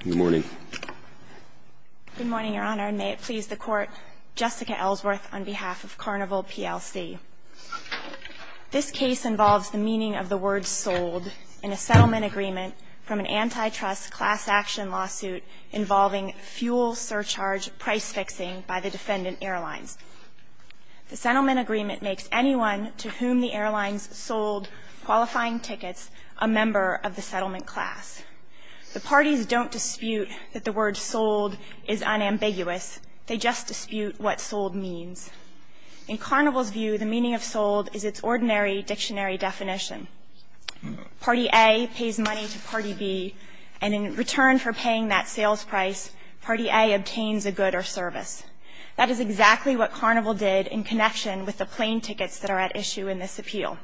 Good morning. Good morning, Your Honor, and may it please the Court. Jessica Ellsworth on behalf of Carnival PLC. This case involves the meaning of the word sold in a settlement agreement from an antitrust class action lawsuit involving fuel surcharge price fixing by the defendant airlines. The settlement agreement makes anyone to whom the airlines sold qualifying tickets a member of the settlement class. The parties don't dispute that the word sold is unambiguous. They just dispute what sold means. In Carnival's view, the meaning of sold is its ordinary dictionary definition. Party A pays money to Party B, and in return for paying that sales price, Party A obtains a good or service. That is exactly what Carnival did in connection with the plane tickets that are at issue in this appeal.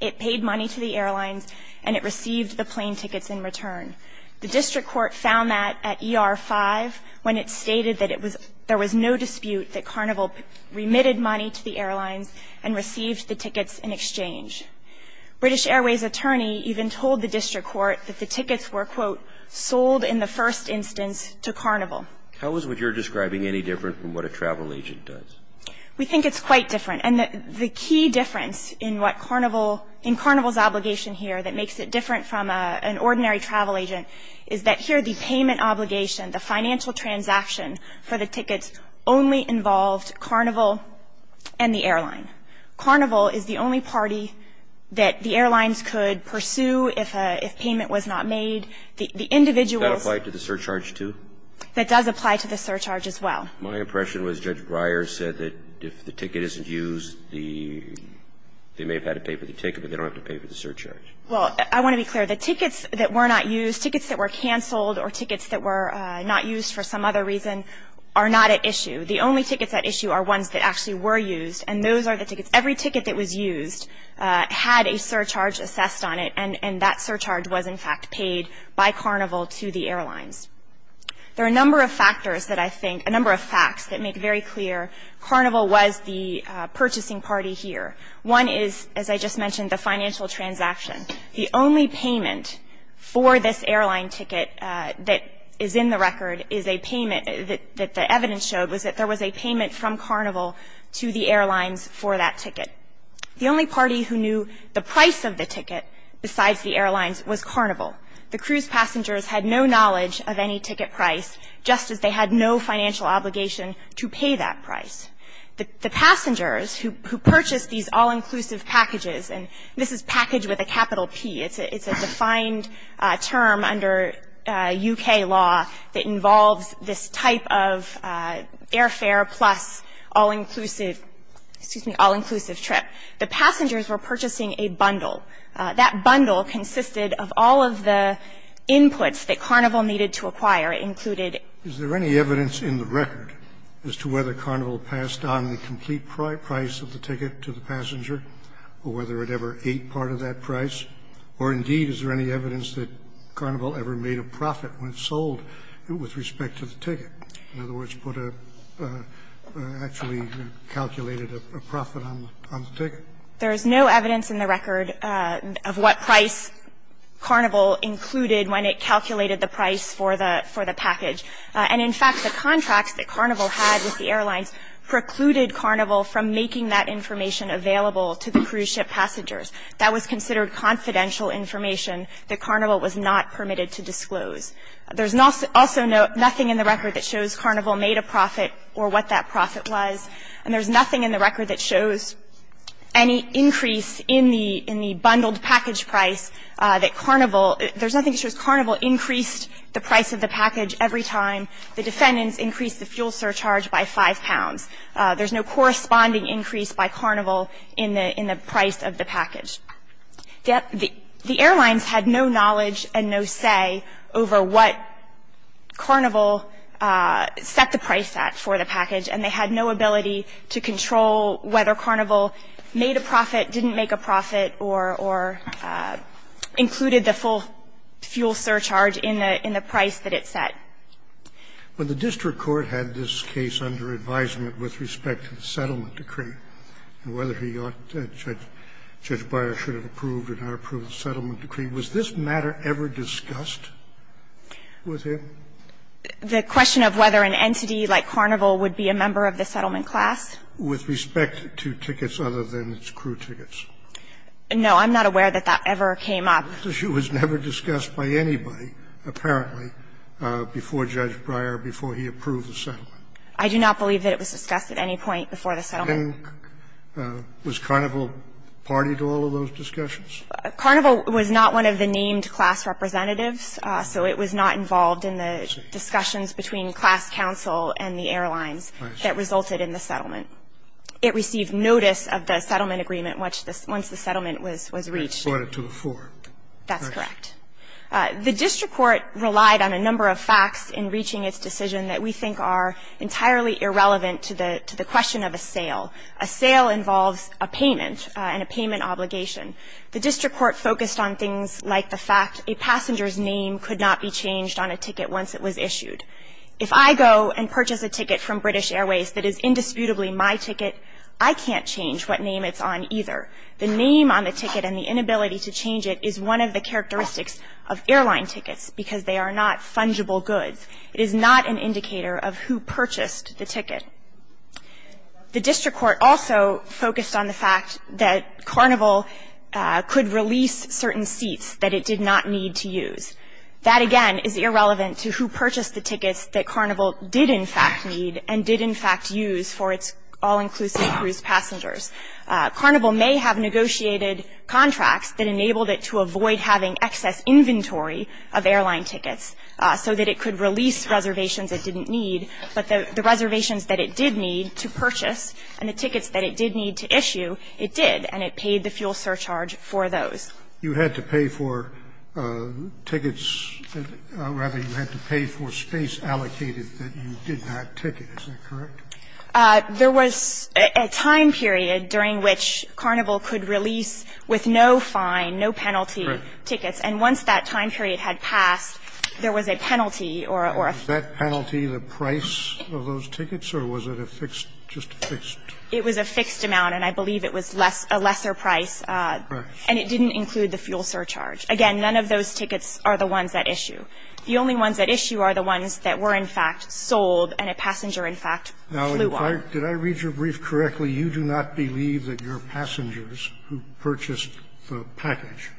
It paid money to the airlines, and it received the plane tickets in return. The district court found that at ER-5 when it stated that it was – there was no dispute that Carnival remitted money to the airlines and received the tickets in exchange. British Airways' attorney even told the district court that the tickets were, quote, sold in the first instance to Carnival. How is what you're describing any different from what a travel agent does? We think it's quite different. And the key difference in what Carnival – in Carnival's obligation here that makes it different from an ordinary travel agent is that here the payment obligation, the financial transaction for the tickets only involved Carnival and the airline. Carnival is the only party that the airlines could pursue if payment was not made. The individuals – Does that apply to the surcharge, too? That does apply to the surcharge as well. My impression was Judge Breyer said that if the ticket isn't used, the – they may have had to pay for the ticket, but they don't have to pay for the surcharge. Well, I want to be clear. The tickets that were not used, tickets that were canceled or tickets that were not used for some other reason are not at issue. The only tickets at issue are ones that actually were used, and those are the tickets – every ticket that was used had a surcharge assessed on it, and that surcharge was, in fact, paid by Carnival to the airlines. There are a number of factors that I think – a number of facts that make very clear Carnival was the purchasing party here. One is, as I just mentioned, the financial transaction. The only payment for this airline ticket that is in the record is a payment that the evidence showed was that there was a payment from Carnival to the airlines for that ticket. The only party who knew the price of the ticket besides the airlines was Carnival. The cruise passengers had no knowledge of any ticket price, just as they had no financial obligation to pay that price. The passengers who purchased these all-inclusive packages – and this is package with a capital P. It's a defined term under U.K. law that involves this type of airfare plus all-inclusive – excuse me, all-inclusive trip. The passengers were purchasing a bundle. That bundle consisted of all of the inputs that Carnival needed to acquire. It included – Is there any evidence in the record as to whether Carnival passed on the complete price of the ticket to the passenger or whether it ever ate part of that price? Or, indeed, is there any evidence that Carnival ever made a profit when sold with respect to the ticket? In other words, put a – actually calculated a profit on the ticket? There is no evidence in the record of what price Carnival included when it calculated the price for the package. And, in fact, the contracts that Carnival had with the airlines precluded Carnival from making that information available to the cruise ship passengers. That was considered confidential information that Carnival was not permitted to disclose. There's also nothing in the record that shows Carnival made a profit or what that profit was. And there's nothing in the record that shows any increase in the bundled package price that Carnival – there's nothing that shows Carnival increased the price of the package every time the defendants increased the fuel surcharge by 5 pounds. There's no corresponding increase by Carnival in the price of the package. The airlines had no knowledge and no say over what Carnival set the price at for the package, and they had no ability to control whether Carnival made a profit, didn't make a profit, or included the full fuel surcharge in the – in the price that it set. When the district court had this case under advisement with respect to the settlement decree and whether he ought – Judge Breyer should have approved or not approved the settlement decree, was this matter ever discussed with him? The question of whether an entity like Carnival would be a member of the settlement class? With respect to tickets other than its crew tickets. No, I'm not aware that that ever came up. This issue was never discussed by anybody, apparently, before Judge Breyer, before he approved the settlement. I do not believe that it was discussed at any point before the settlement. And was Carnival party to all of those discussions? Carnival was not one of the named class representatives, so it was not involved in the discussions between class counsel and the airlines that resulted in the settlement. It received notice of the settlement agreement once the settlement was reached. In order to afford. That's correct. The district court relied on a number of facts in reaching its decision that we think are entirely irrelevant to the question of a sale. A sale involves a payment and a payment obligation. The district court focused on things like the fact a passenger's name could not be changed on a ticket once it was issued. If I go and purchase a ticket from British Airways that is indisputably my ticket, I can't change what name it's on either. The name on the ticket and the inability to change it is one of the characteristics of airline tickets because they are not fungible goods. It is not an indicator of who purchased the ticket. The district court also focused on the fact that Carnival could release certain seats that it did not need to use. That, again, is irrelevant to who purchased the tickets that Carnival did, in fact, need and did, in fact, use for its all-inclusive cruise passengers. Carnival may have negotiated contracts that enabled it to avoid having excess inventory of airline tickets so that it could release reservations it didn't need. But the reservations that it did need to purchase and the tickets that it did need to issue, it did, and it paid the fuel surcharge for those. You had to pay for tickets, or rather, you had to pay for space allocated that you did not ticket. Is that correct? There was a time period during which Carnival could release with no fine, no penalty tickets. And once that time period had passed, there was a penalty or a fee. Was that penalty the price of those tickets, or was it a fixed, just a fixed? It was a fixed amount, and I believe it was less, a lesser price. And it didn't include the fuel surcharge. Again, none of those tickets are the ones at issue. The only ones at issue are the ones that were, in fact, sold and a passenger, in fact, flew on. Now, did I read your brief correctly? You do not believe that your passengers who purchased the package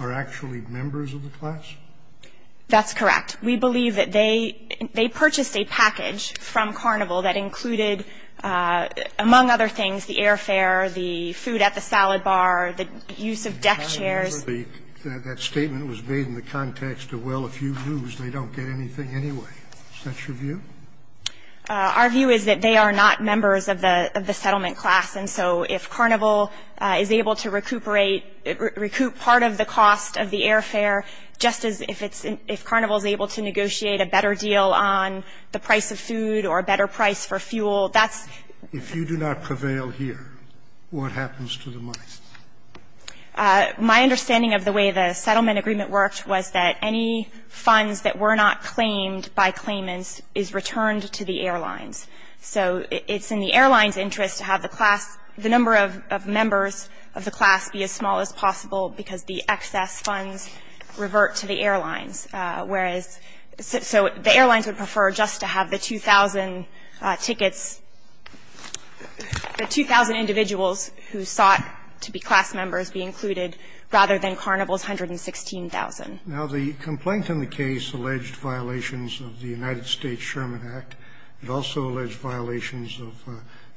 are actually members of the class? That's correct. We believe that they purchased a package from Carnival that included, among other things, the airfare, the food at the salad bar, the use of deck chairs. That statement was made in the context of, well, if you lose, they don't get anything anyway. Is that your view? Our view is that they are not members of the settlement class. And so if Carnival is able to recuperate, recoup part of the cost of the airfare, just as if Carnival is able to negotiate a better deal on the price of food or a better price for fuel, that's. If you do not prevail here, what happens to the money? My understanding of the way the settlement agreement worked was that any funds that were not claimed by claimants is returned to the airlines. So it's in the airlines' interest to have the class, the number of members of the class be as small as possible because the excess funds revert to the airlines, whereas So the airlines would prefer just to have the 2,000 tickets, the 2,000 individuals who sought to be class members be included rather than Carnival's 116,000. Now, the complaint in the case alleged violations of the United States Sherman Act. It also alleged violations of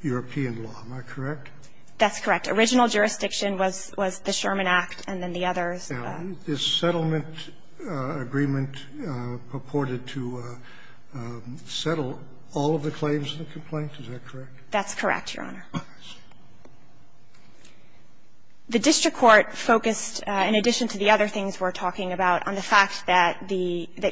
European law. Am I correct? That's correct. Original jurisdiction was the Sherman Act and then the others. Is settlement agreement purported to settle all of the claims in the complaint? Is that correct? That's correct, Your Honor. The district court focused, in addition to the other things we're talking about, on the fact that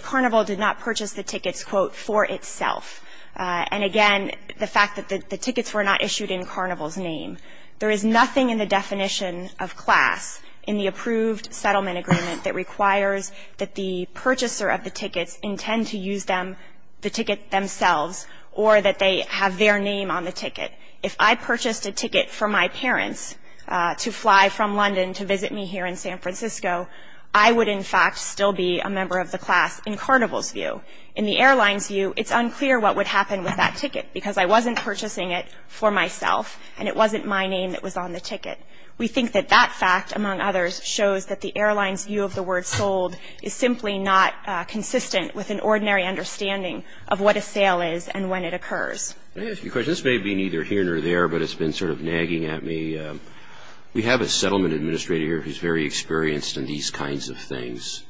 Carnival did not purchase the tickets, quote, for itself. And again, the fact that the tickets were not issued in Carnival's name. There is nothing in the definition of class in the approved settlement agreement that requires that the purchaser of the tickets intend to use them, the ticket themselves, or that they have their name on the ticket. If I purchased a ticket for my parents to fly from London to visit me here in San Francisco, I would, in fact, still be a member of the class in Carnival's view. In the airlines' view, it's unclear what would happen with that ticket because I don't have my name that was on the ticket. We think that that fact, among others, shows that the airlines' view of the word sold is simply not consistent with an ordinary understanding of what a sale is and when it occurs. Let me ask you a question. This may be neither here nor there, but it's been sort of nagging at me. We have a settlement administrator here who's very experienced in these kinds of things,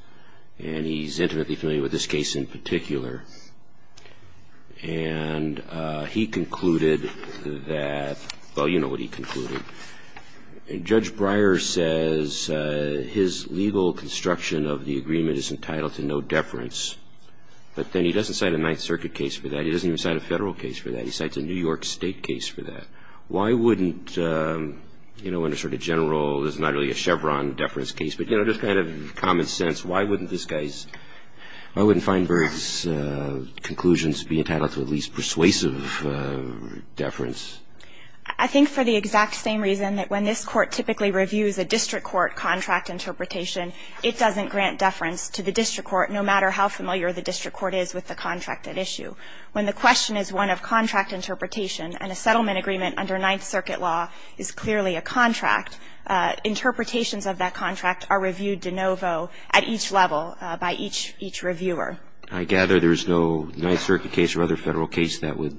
and he's intimately familiar with this case in particular. And he concluded that, well, you know what he concluded. Judge Breyer says his legal construction of the agreement is entitled to no deference, but then he doesn't cite a Ninth Circuit case for that. He doesn't even cite a federal case for that. He cites a New York State case for that. Why wouldn't, you know, in a sort of general, there's not really a Chevron deference case, but, you know, just kind of common sense, why wouldn't this guy's, why wouldn't Feinberg's conclusions be entitled to at least persuasive deference? I think for the exact same reason that when this Court typically reviews a district court contract interpretation, it doesn't grant deference to the district court no matter how familiar the district court is with the contract at issue. When the question is one of contract interpretation and a settlement agreement under Ninth Circuit law is clearly a contract, interpretations of that contract are reviewed de novo at each level by each reviewer. I gather there's no Ninth Circuit case or other federal case that would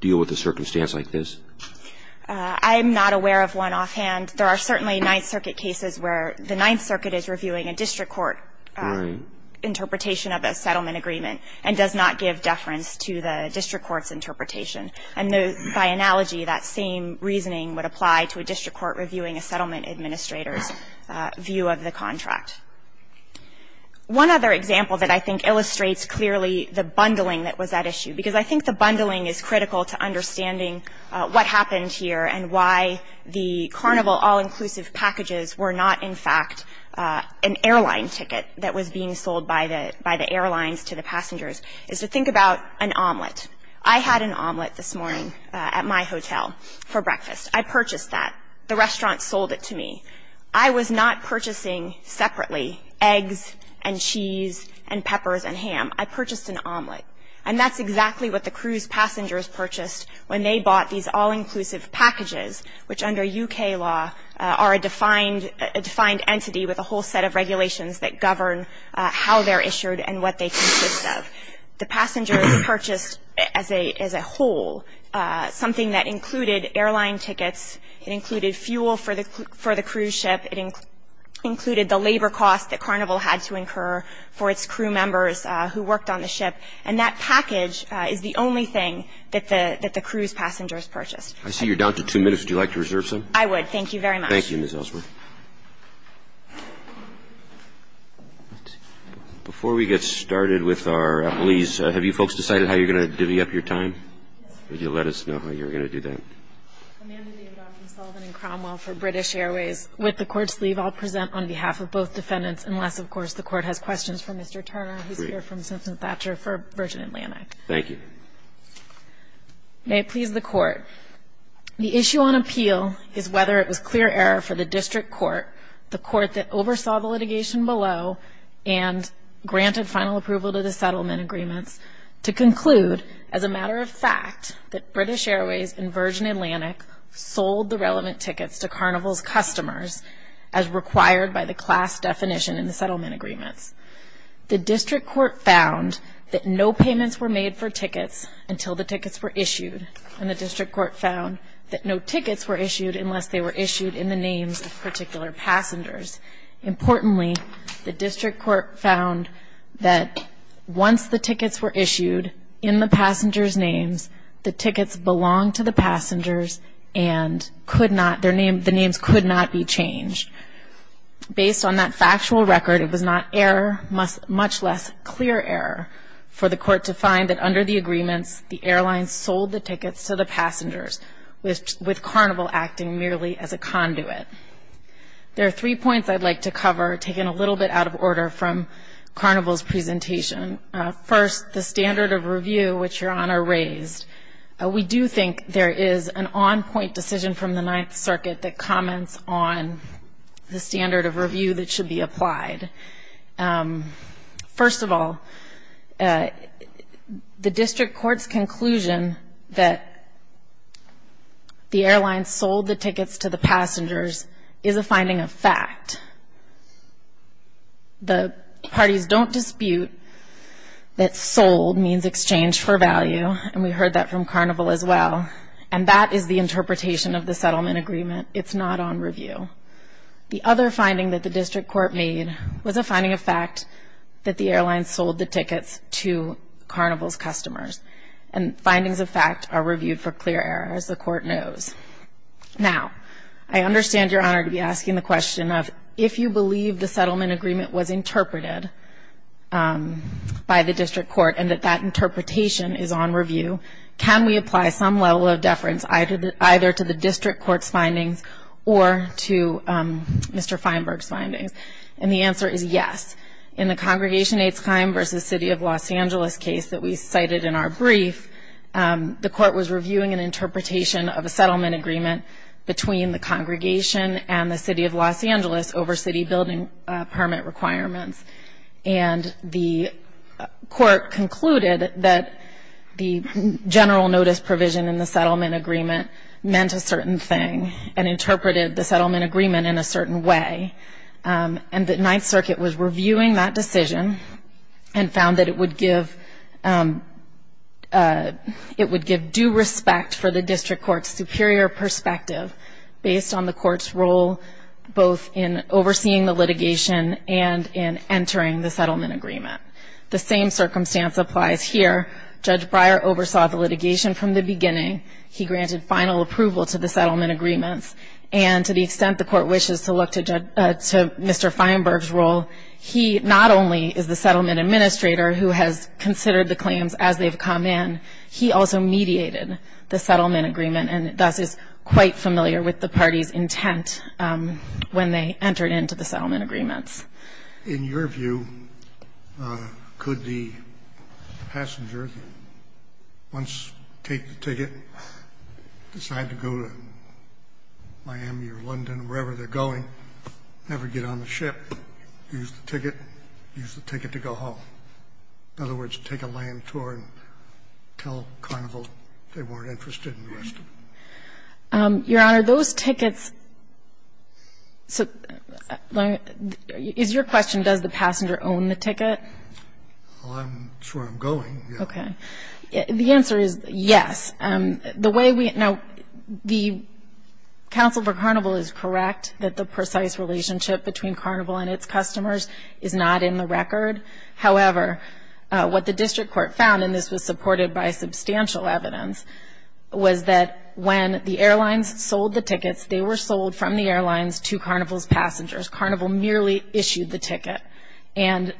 deal with a circumstance like this? I'm not aware of one offhand. There are certainly Ninth Circuit cases where the Ninth Circuit is reviewing a district court interpretation of a settlement agreement and does not give deference to the district court's interpretation. And by analogy, that same reasoning would apply to a district court reviewing a contract. One other example that I think illustrates clearly the bundling that was at issue, because I think the bundling is critical to understanding what happened here and why the Carnival all-inclusive packages were not, in fact, an airline ticket that was being sold by the airlines to the passengers, is to think about an omelet. I had an omelet this morning at my hotel for breakfast. I purchased that. The restaurant sold it to me. I was not purchasing separately eggs and cheese and peppers and ham. I purchased an omelet. And that's exactly what the cruise passengers purchased when they bought these all-inclusive packages, which under U.K. law are a defined entity with a whole set of regulations that govern how they're issued and what they consist of. The passengers purchased as a whole something that included airline tickets. It included fuel for the cruise ship. It included the labor costs that Carnival had to incur for its crew members who worked on the ship. And that package is the only thing that the cruise passengers purchased. I see you're down to two minutes. Would you like to reserve some? I would. Thank you very much. Thank you, Ms. Ellsworth. Before we get started with our appellees, have you folks decided how you're going to divvy up your time? Yes. Would you let us know how you're going to do that? Amanda Davidoff from Sullivan & Cromwell for British Airways. With the Court's leave, I'll present on behalf of both defendants, unless, of course, the Court has questions for Mr. Turner. Great. He's here from Simpson Thatcher for Virgin Atlantic. Thank you. May it please the Court, the issue on appeal is whether it was clear error for the district court, the court that oversaw the litigation below and granted final approval to the settlement agreements, to conclude as a matter of fact that British Airways and Virgin Atlantic sold the relevant tickets to Carnival's customers as required by the class definition in the settlement agreements. The district court found that no payments were made for tickets until the tickets were issued, and the district court found that no tickets were issued unless they were issued in the names of particular passengers. Importantly, the district court found that once the tickets were issued in the passengers' names, the tickets belonged to the passengers and the names could not be changed. Based on that factual record, it was not error, much less clear error for the court to find that under the agreements, the airlines sold the tickets to the passengers, with Carnival acting merely as a conduit. There are three points I'd like to cover, taken a little bit out of order from Carnival's presentation. First, the standard of review, which Your Honor raised. We do think there is an on-point decision from the Ninth Circuit that comments on the standard of review that should be applied. First of all, the district court's conclusion that the airlines sold the tickets to the passengers is a finding of fact. The parties don't dispute that sold means exchanged for value, and we heard that from Carnival as well, and that is the interpretation of the settlement agreement. It's not on review. The other finding that the district court made was a finding of fact that the airlines sold the tickets to Carnival's customers, and findings of fact are reviewed for clear error, as the court knows. Now, I understand Your Honor to be asking the question of, if you believe the settlement agreement was interpreted by the district court, and that that interpretation is on review, can we apply some level of deference either to the district court's findings or to Mr. Feinberg's findings? And the answer is yes. In the Congregation Aids Climb versus City of Los Angeles case that we cited in our brief, the court was reviewing an interpretation of a settlement agreement between the congregation and the City of Los Angeles over city building permit requirements. And the court concluded that the general notice provision in the settlement agreement meant a certain thing, and interpreted the settlement agreement in a certain way. And the Ninth Circuit was reviewing that decision and found that it would give due respect for the district court's superior perspective, based on the court's role both in overseeing the litigation and in entering the settlement agreement. The same circumstance applies here. Judge Breyer oversaw the litigation from the beginning. He granted final approval to the settlement agreements. And to the extent the court wishes to look to Mr. Feinberg's role, he is not only the settlement administrator who has considered the claims as they have come in, he also mediated the settlement agreement, and thus is quite familiar with the party's intent when they entered into the settlement agreements. In your view, could the passenger once take the ticket, decide to go to Miami or London, wherever they're going, never get on the ship, use the ticket, use the ticket to go home? In other words, take a land tour and tell Carnival they weren't interested in the rest of it? Your Honor, those tickets so, is your question does the passenger own the ticket? Well, I'm sure I'm going. Okay. The answer is yes. The way we, now, the counsel for Carnival is correct that the precise relationship between Carnival and its customers is not in the record. However, what the district court found, and this was supported by substantial evidence, was that when the airlines sold the tickets, they were sold from the airlines to Carnival's passengers. Carnival merely issued the ticket. And,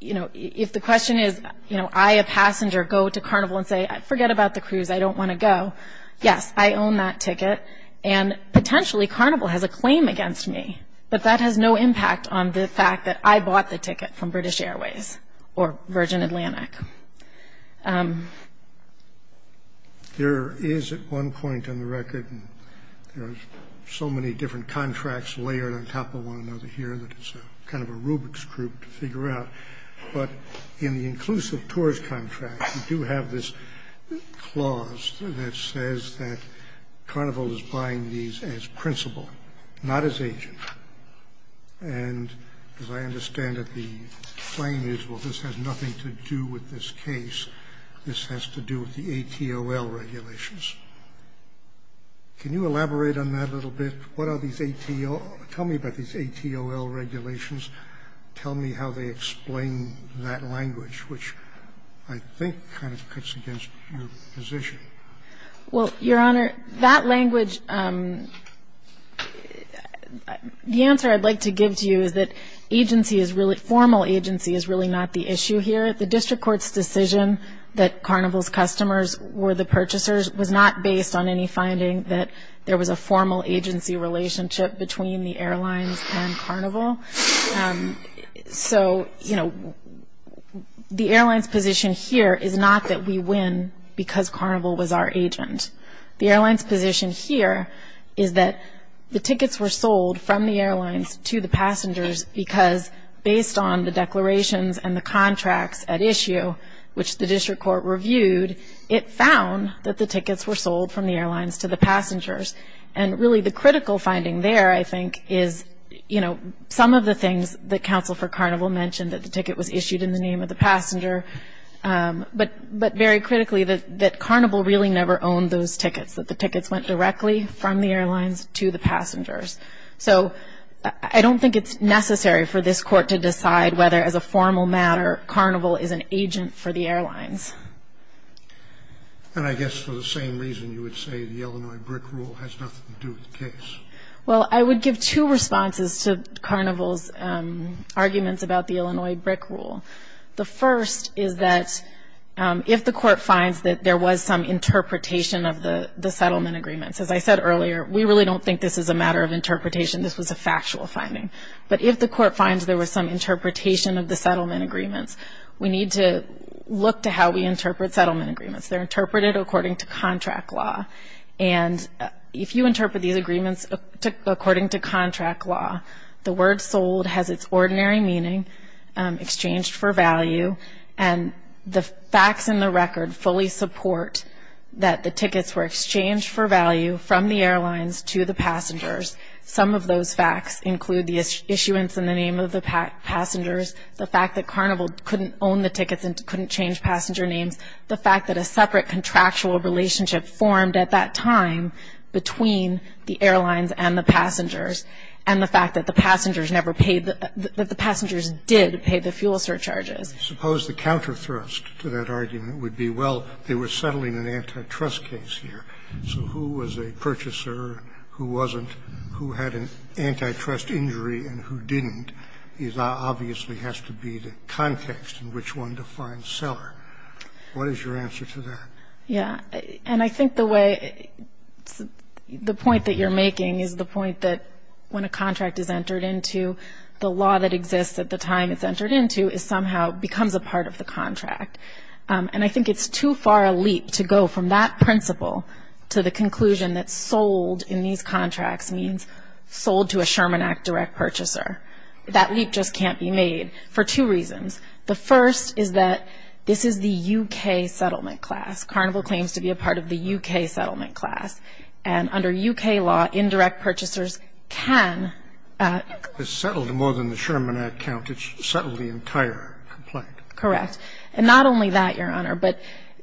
you know, if the question is, you know, I, a passenger, go to Carnival and say, forget about the cruise, I don't want to go, yes, I own that ticket. And, potentially, Carnival has a claim against me. But that has no impact on the fact that I bought the ticket from British Airways or Virgin Atlantic. There is, at one point in the record, there's so many different contracts layered on top of one another here that it's kind of a Rubik's cube to figure out. But in the inclusive tourist contract, you do have this clause that says that Carnival is buying these as principal, not as agent. And as I understand it, the claim is, well, this has nothing to do with this case. This has to do with the ATOL regulations. Can you elaborate on that a little bit? What are these ATOL – tell me about these ATOL regulations. Tell me how they explain that language, which I think kind of cuts against your position. Well, Your Honor, that language – the answer I'd like to give to you is that agency is really – formal agency is really not the issue here. The District Court's decision that Carnival's customers were the purchasers was not based on any finding that there was a formal agency relationship between the airlines and Carnival. So, you know, the airlines' position here is not that we win because Carnival was our agent. The airlines' position here is that the tickets were sold from the airlines to the passengers because, based on the declarations and the contracts at issue, which the District Court reviewed, it found that the tickets were sold from the airlines to the passengers. And really, the critical finding there, I think, is, you know, some of the things that Counsel for Carnival mentioned, that the ticket was issued in the name of the passenger, but very critically, that Carnival really never owned those tickets, that the tickets went directly from the airlines to the passengers. So I don't think it's necessary for this Court to decide whether, And I guess for the same reason you would say the Illinois brick rule has nothing to do with the case. Well, I would give two responses to Carnival's arguments about the Illinois brick rule. The first is that if the Court finds that there was some interpretation of the settlement agreements, as I said earlier, we really don't think this is a matter of interpretation. This was a factual finding. But if the Court finds there was some interpretation of the settlement agreements, we need to look to how we interpret settlement agreements. They're interpreted according to contract law. And if you interpret these agreements according to contract law, the word sold has its ordinary meaning, exchanged for value, and the facts in the record fully support that the tickets were exchanged for value from the airlines to the passengers. Some of those facts include the issuance in the name of the passengers, the fact that Carnival couldn't own the tickets and couldn't change passenger names, the fact that a separate contractual relationship formed at that time between the airlines and the passengers, and the fact that the passengers did pay the fuel surcharges. Suppose the counter thrust to that argument would be, well, they were settling an antitrust case here, so who was a purchaser and who wasn't, who had an antitrust injury and who didn't, obviously has to be the context in which one defines seller. What is your answer to that? Yeah. And I think the way, the point that you're making is the point that when a contract is entered into, the law that exists at the time it's entered into is somehow, becomes a part of the contract. And I think it's too far a leap to go from that principle to the conclusion that sold in these contracts means sold to a Sherman Act direct purchaser. That leap just can't be made for two reasons. The first is that this is the U.K. settlement class. Carnival claims to be a part of the U.K. settlement class. And under U.K. law, indirect purchasers can... It's settled more than the Sherman Act count. It's settled the entire complaint. Correct. And not only that, Your Honor, but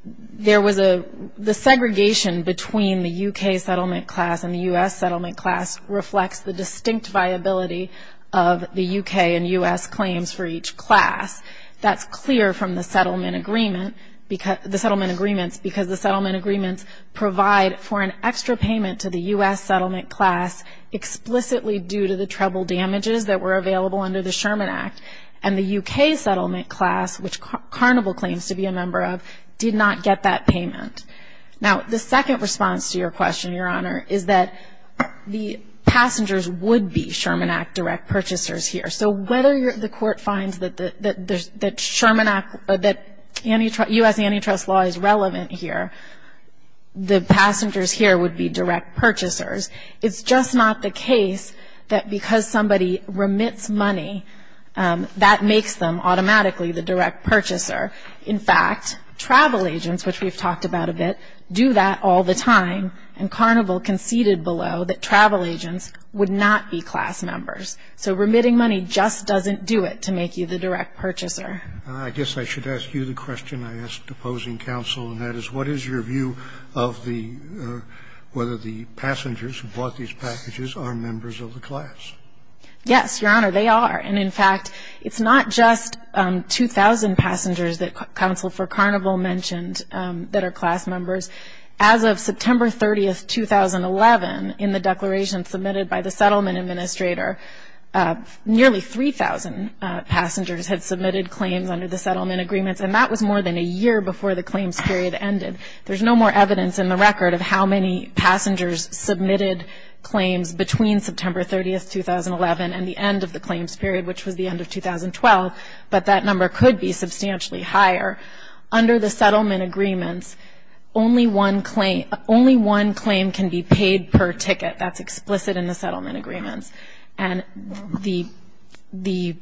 there was a, the segregation between the U.K. settlement class and the U.S. settlement class reflects the distinct viability of the U.K. and U.S. claims for each class. That's clear from the settlement agreement, the settlement agreements because the settlement agreements provide for an extra payment to the U.S. settlement class explicitly due to the treble damages that were available under the Sherman Act. And the U.K. settlement class, which Carnival claims to be a member of, did not get that payment. Now, the second response to your question, Your Honor, is that the passengers would be Sherman Act direct purchasers here. So whether the court finds that the Sherman Act, that U.S. antitrust law is relevant here, the passengers here would be direct purchasers. It's just not the case that because somebody remits money, that makes them automatically the direct purchaser. In fact, travel agents, which we've talked about a bit, do that all the time. And Carnival conceded below that travel agents would not be class members. So remitting money just doesn't do it to make you the direct purchaser. I guess I should ask you the question I asked opposing counsel, and that is what is your view of the, whether the passengers who bought these packages are members of the class? Yes, Your Honor, they are. And in fact, it's not just 2,000 passengers that counsel for Carnival mentioned that are class members. As of September 30th, 2011, in the declaration submitted by the settlement administrator, nearly 3,000 passengers had submitted claims under the settlement agreements. And that was more than a year before the claims period ended. There's no more evidence in the record of how many passengers submitted claims between September 30th, 2011, and the end of the claims period, which was the end of 2012. But that number could be substantially higher. Under the settlement agreements, only one claim can be paid per ticket. That's explicit in the settlement agreements. And the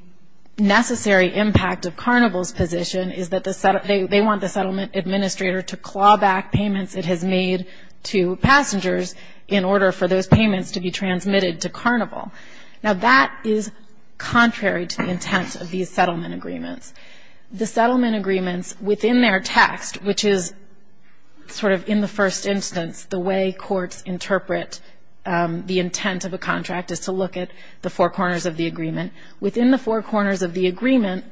necessary impact of Carnival's position is that they want the settlement administrator to claw back payments it has made to passengers in order for those payments to be transmitted to Carnival. Now that is contrary to the intent of these settlement agreements. The settlement agreements, within their text, which is sort of in the first instance, the way courts interpret the intent of a contract, is to look at the four corners of the agreement. Within the four corners of the agreement,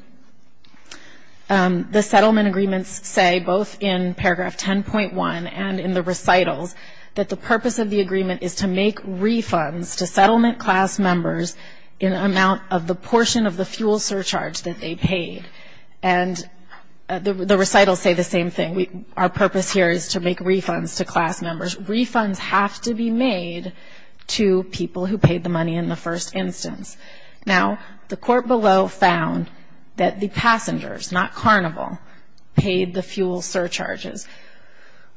the settlement agreements say, both in paragraph 10.1 and in the recitals, that the purpose of the agreement is to make refunds to settlement class members in amount of the portion of the fuel surcharge that they paid. And the recitals say the same thing. Our purpose here is to make refunds to class members. Refunds have to be made to people who paid the money in the first instance. Now, the court below found that the passengers, not Carnival, paid the fuel surcharges.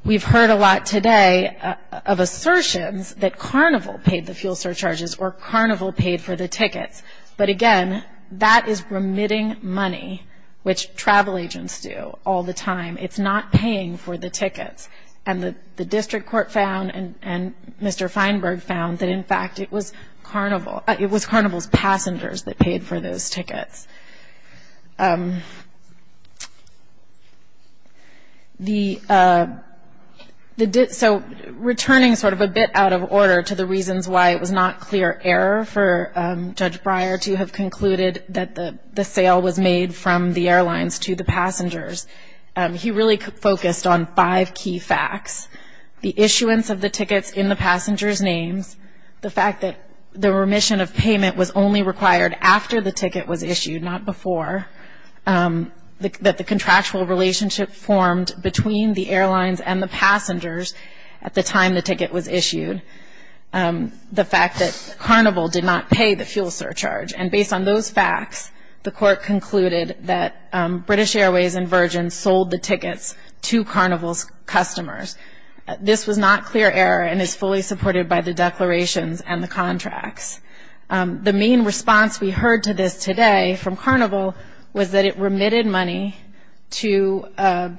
We've heard a lot today of assertions that Carnival paid the fuel surcharges, or Carnival paid for the tickets. But again, that is remitting money, which travel agents do all the time. It's not paying for the tickets. And the district court found, and Mr. Feinberg found, that in fact it was Carnival's passengers that paid for those tickets. So, returning sort of a bit out of order to the reasons why it was not clear error for Judge Breyer to have concluded that the sale was made from the airlines to the passengers, he really focused on five key facts. The issuance of the tickets in the passengers' names, the fact that the remission of payment was only required after the ticket was issued, not before. That the contractual relationship formed between the airlines and the passengers at the time the ticket was issued. The fact that Carnival did not pay the fuel surcharge. And based on those facts, the court concluded that British Airways and Virgin sold the tickets to Carnival's customers. This was not clear error and is fully supported by the declarations and the contracts. The main response we heard to this today from Carnival was that it remitted money to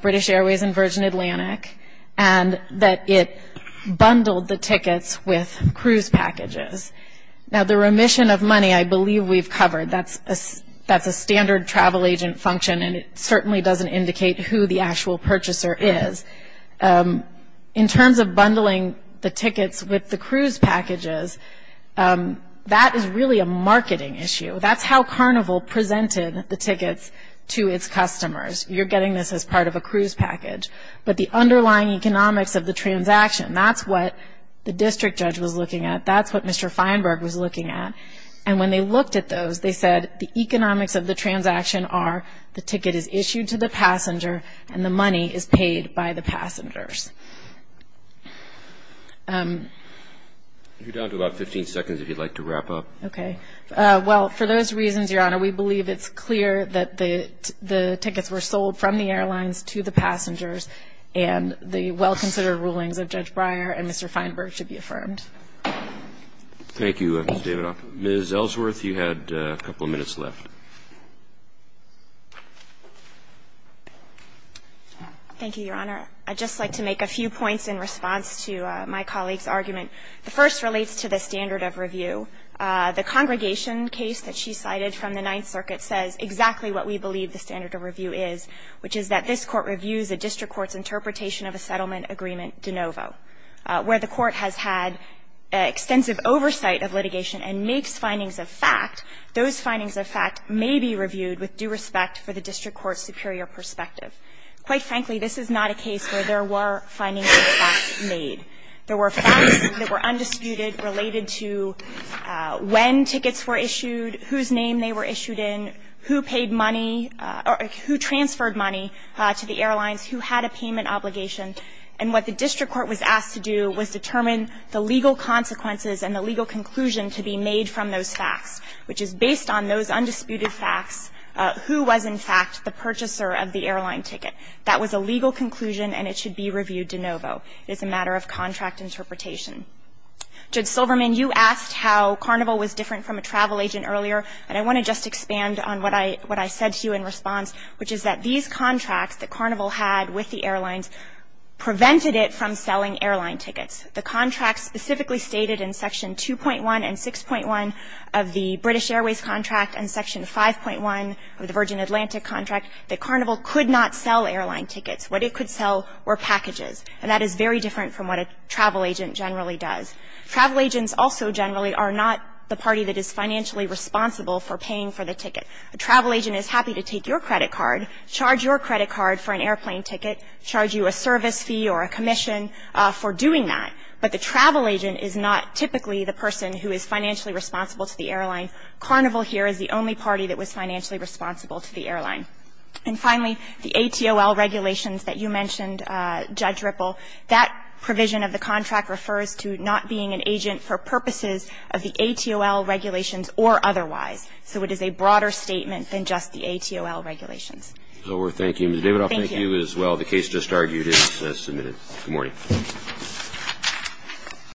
British Airways and Virgin Atlantic and that it bundled the tickets with cruise packages. Now, the remission of money I believe we've covered. That's a standard travel agent function and it certainly doesn't indicate who the actual purchaser is. In terms of bundling the tickets with the cruise packages, that is really a marketing issue. That's how Carnival presented the tickets to its customers. You're getting this as part of a cruise package. But the underlying economics of the transaction, that's what the district judge was looking at, that's what Mr. Feinberg was looking at. And when they looked at those, they said the economics of the transaction are the ticket is issued to the passenger and the money is paid by the passengers. You're down to about 15 seconds if you'd like to wrap up. Okay. Well, for those reasons, Your Honor, we believe it's clear that the tickets were sold from the airlines to the passengers and the well-considered rulings of Judge Breyer and Mr. Feinberg should be affirmed. Thank you, Ms. Davidoff. Ms. Ellsworth, you had a couple of minutes left. Thank you, Your Honor. I'd just like to make a few points in response to my colleague's argument. The first relates to the standard of review. The Congregation case that she cited from the Ninth Circuit says exactly what we believe the standard of review is, which is that this Court reviews a district court's interpretation of a settlement agreement de novo, where the court has had extensive oversight of litigation and makes findings of fact. Those findings of fact may be reviewed with due respect for the district court's superior perspective. Quite frankly, this is not a case where there were findings of fact made. There were facts that were undisputed, related to when tickets were issued, whose name they were issued in, who paid money or who transferred money to the airlines, who had a payment obligation. And what the district court was asked to do was determine the legal consequences and the legal conclusion to be made from those facts, which is based on those undisputed facts, who was in fact the purchaser of the airline ticket. That was a legal conclusion and it should be reviewed de novo. It is a matter of contract interpretation. Judge Silverman, you asked how Carnival was different from a travel agent earlier, and I want to just expand on what I said to you in response, which is that these contracts that Carnival had with the airlines prevented it from selling airline tickets. The contract specifically stated in Section 2.1 and 6.1 of the British Airways contract and Section 5.1 of the Virgin Atlantic contract that Carnival could not sell airline tickets. What it could sell were packages, and that is very different from what a travel agent generally does. Travel agents also generally are not the party that is financially responsible for paying for the ticket. A travel agent is happy to take your credit card, charge your credit card for an airplane ticket, charge you a service fee or a commission for doing that, but the travel agent is not typically the person who is financially responsible to the airline. Carnival here is the only party that was financially responsible to the airline. And finally, the ATOL regulations that you mentioned, Judge Ripple, that provision of the contract refers to not being an agent for purposes of the ATOL regulations or otherwise. So it is a broader statement than just the ATOL regulations. Thank you. Ms. Davidoff, thank you as well. The case just argued is submitted. Good morning. Thank you.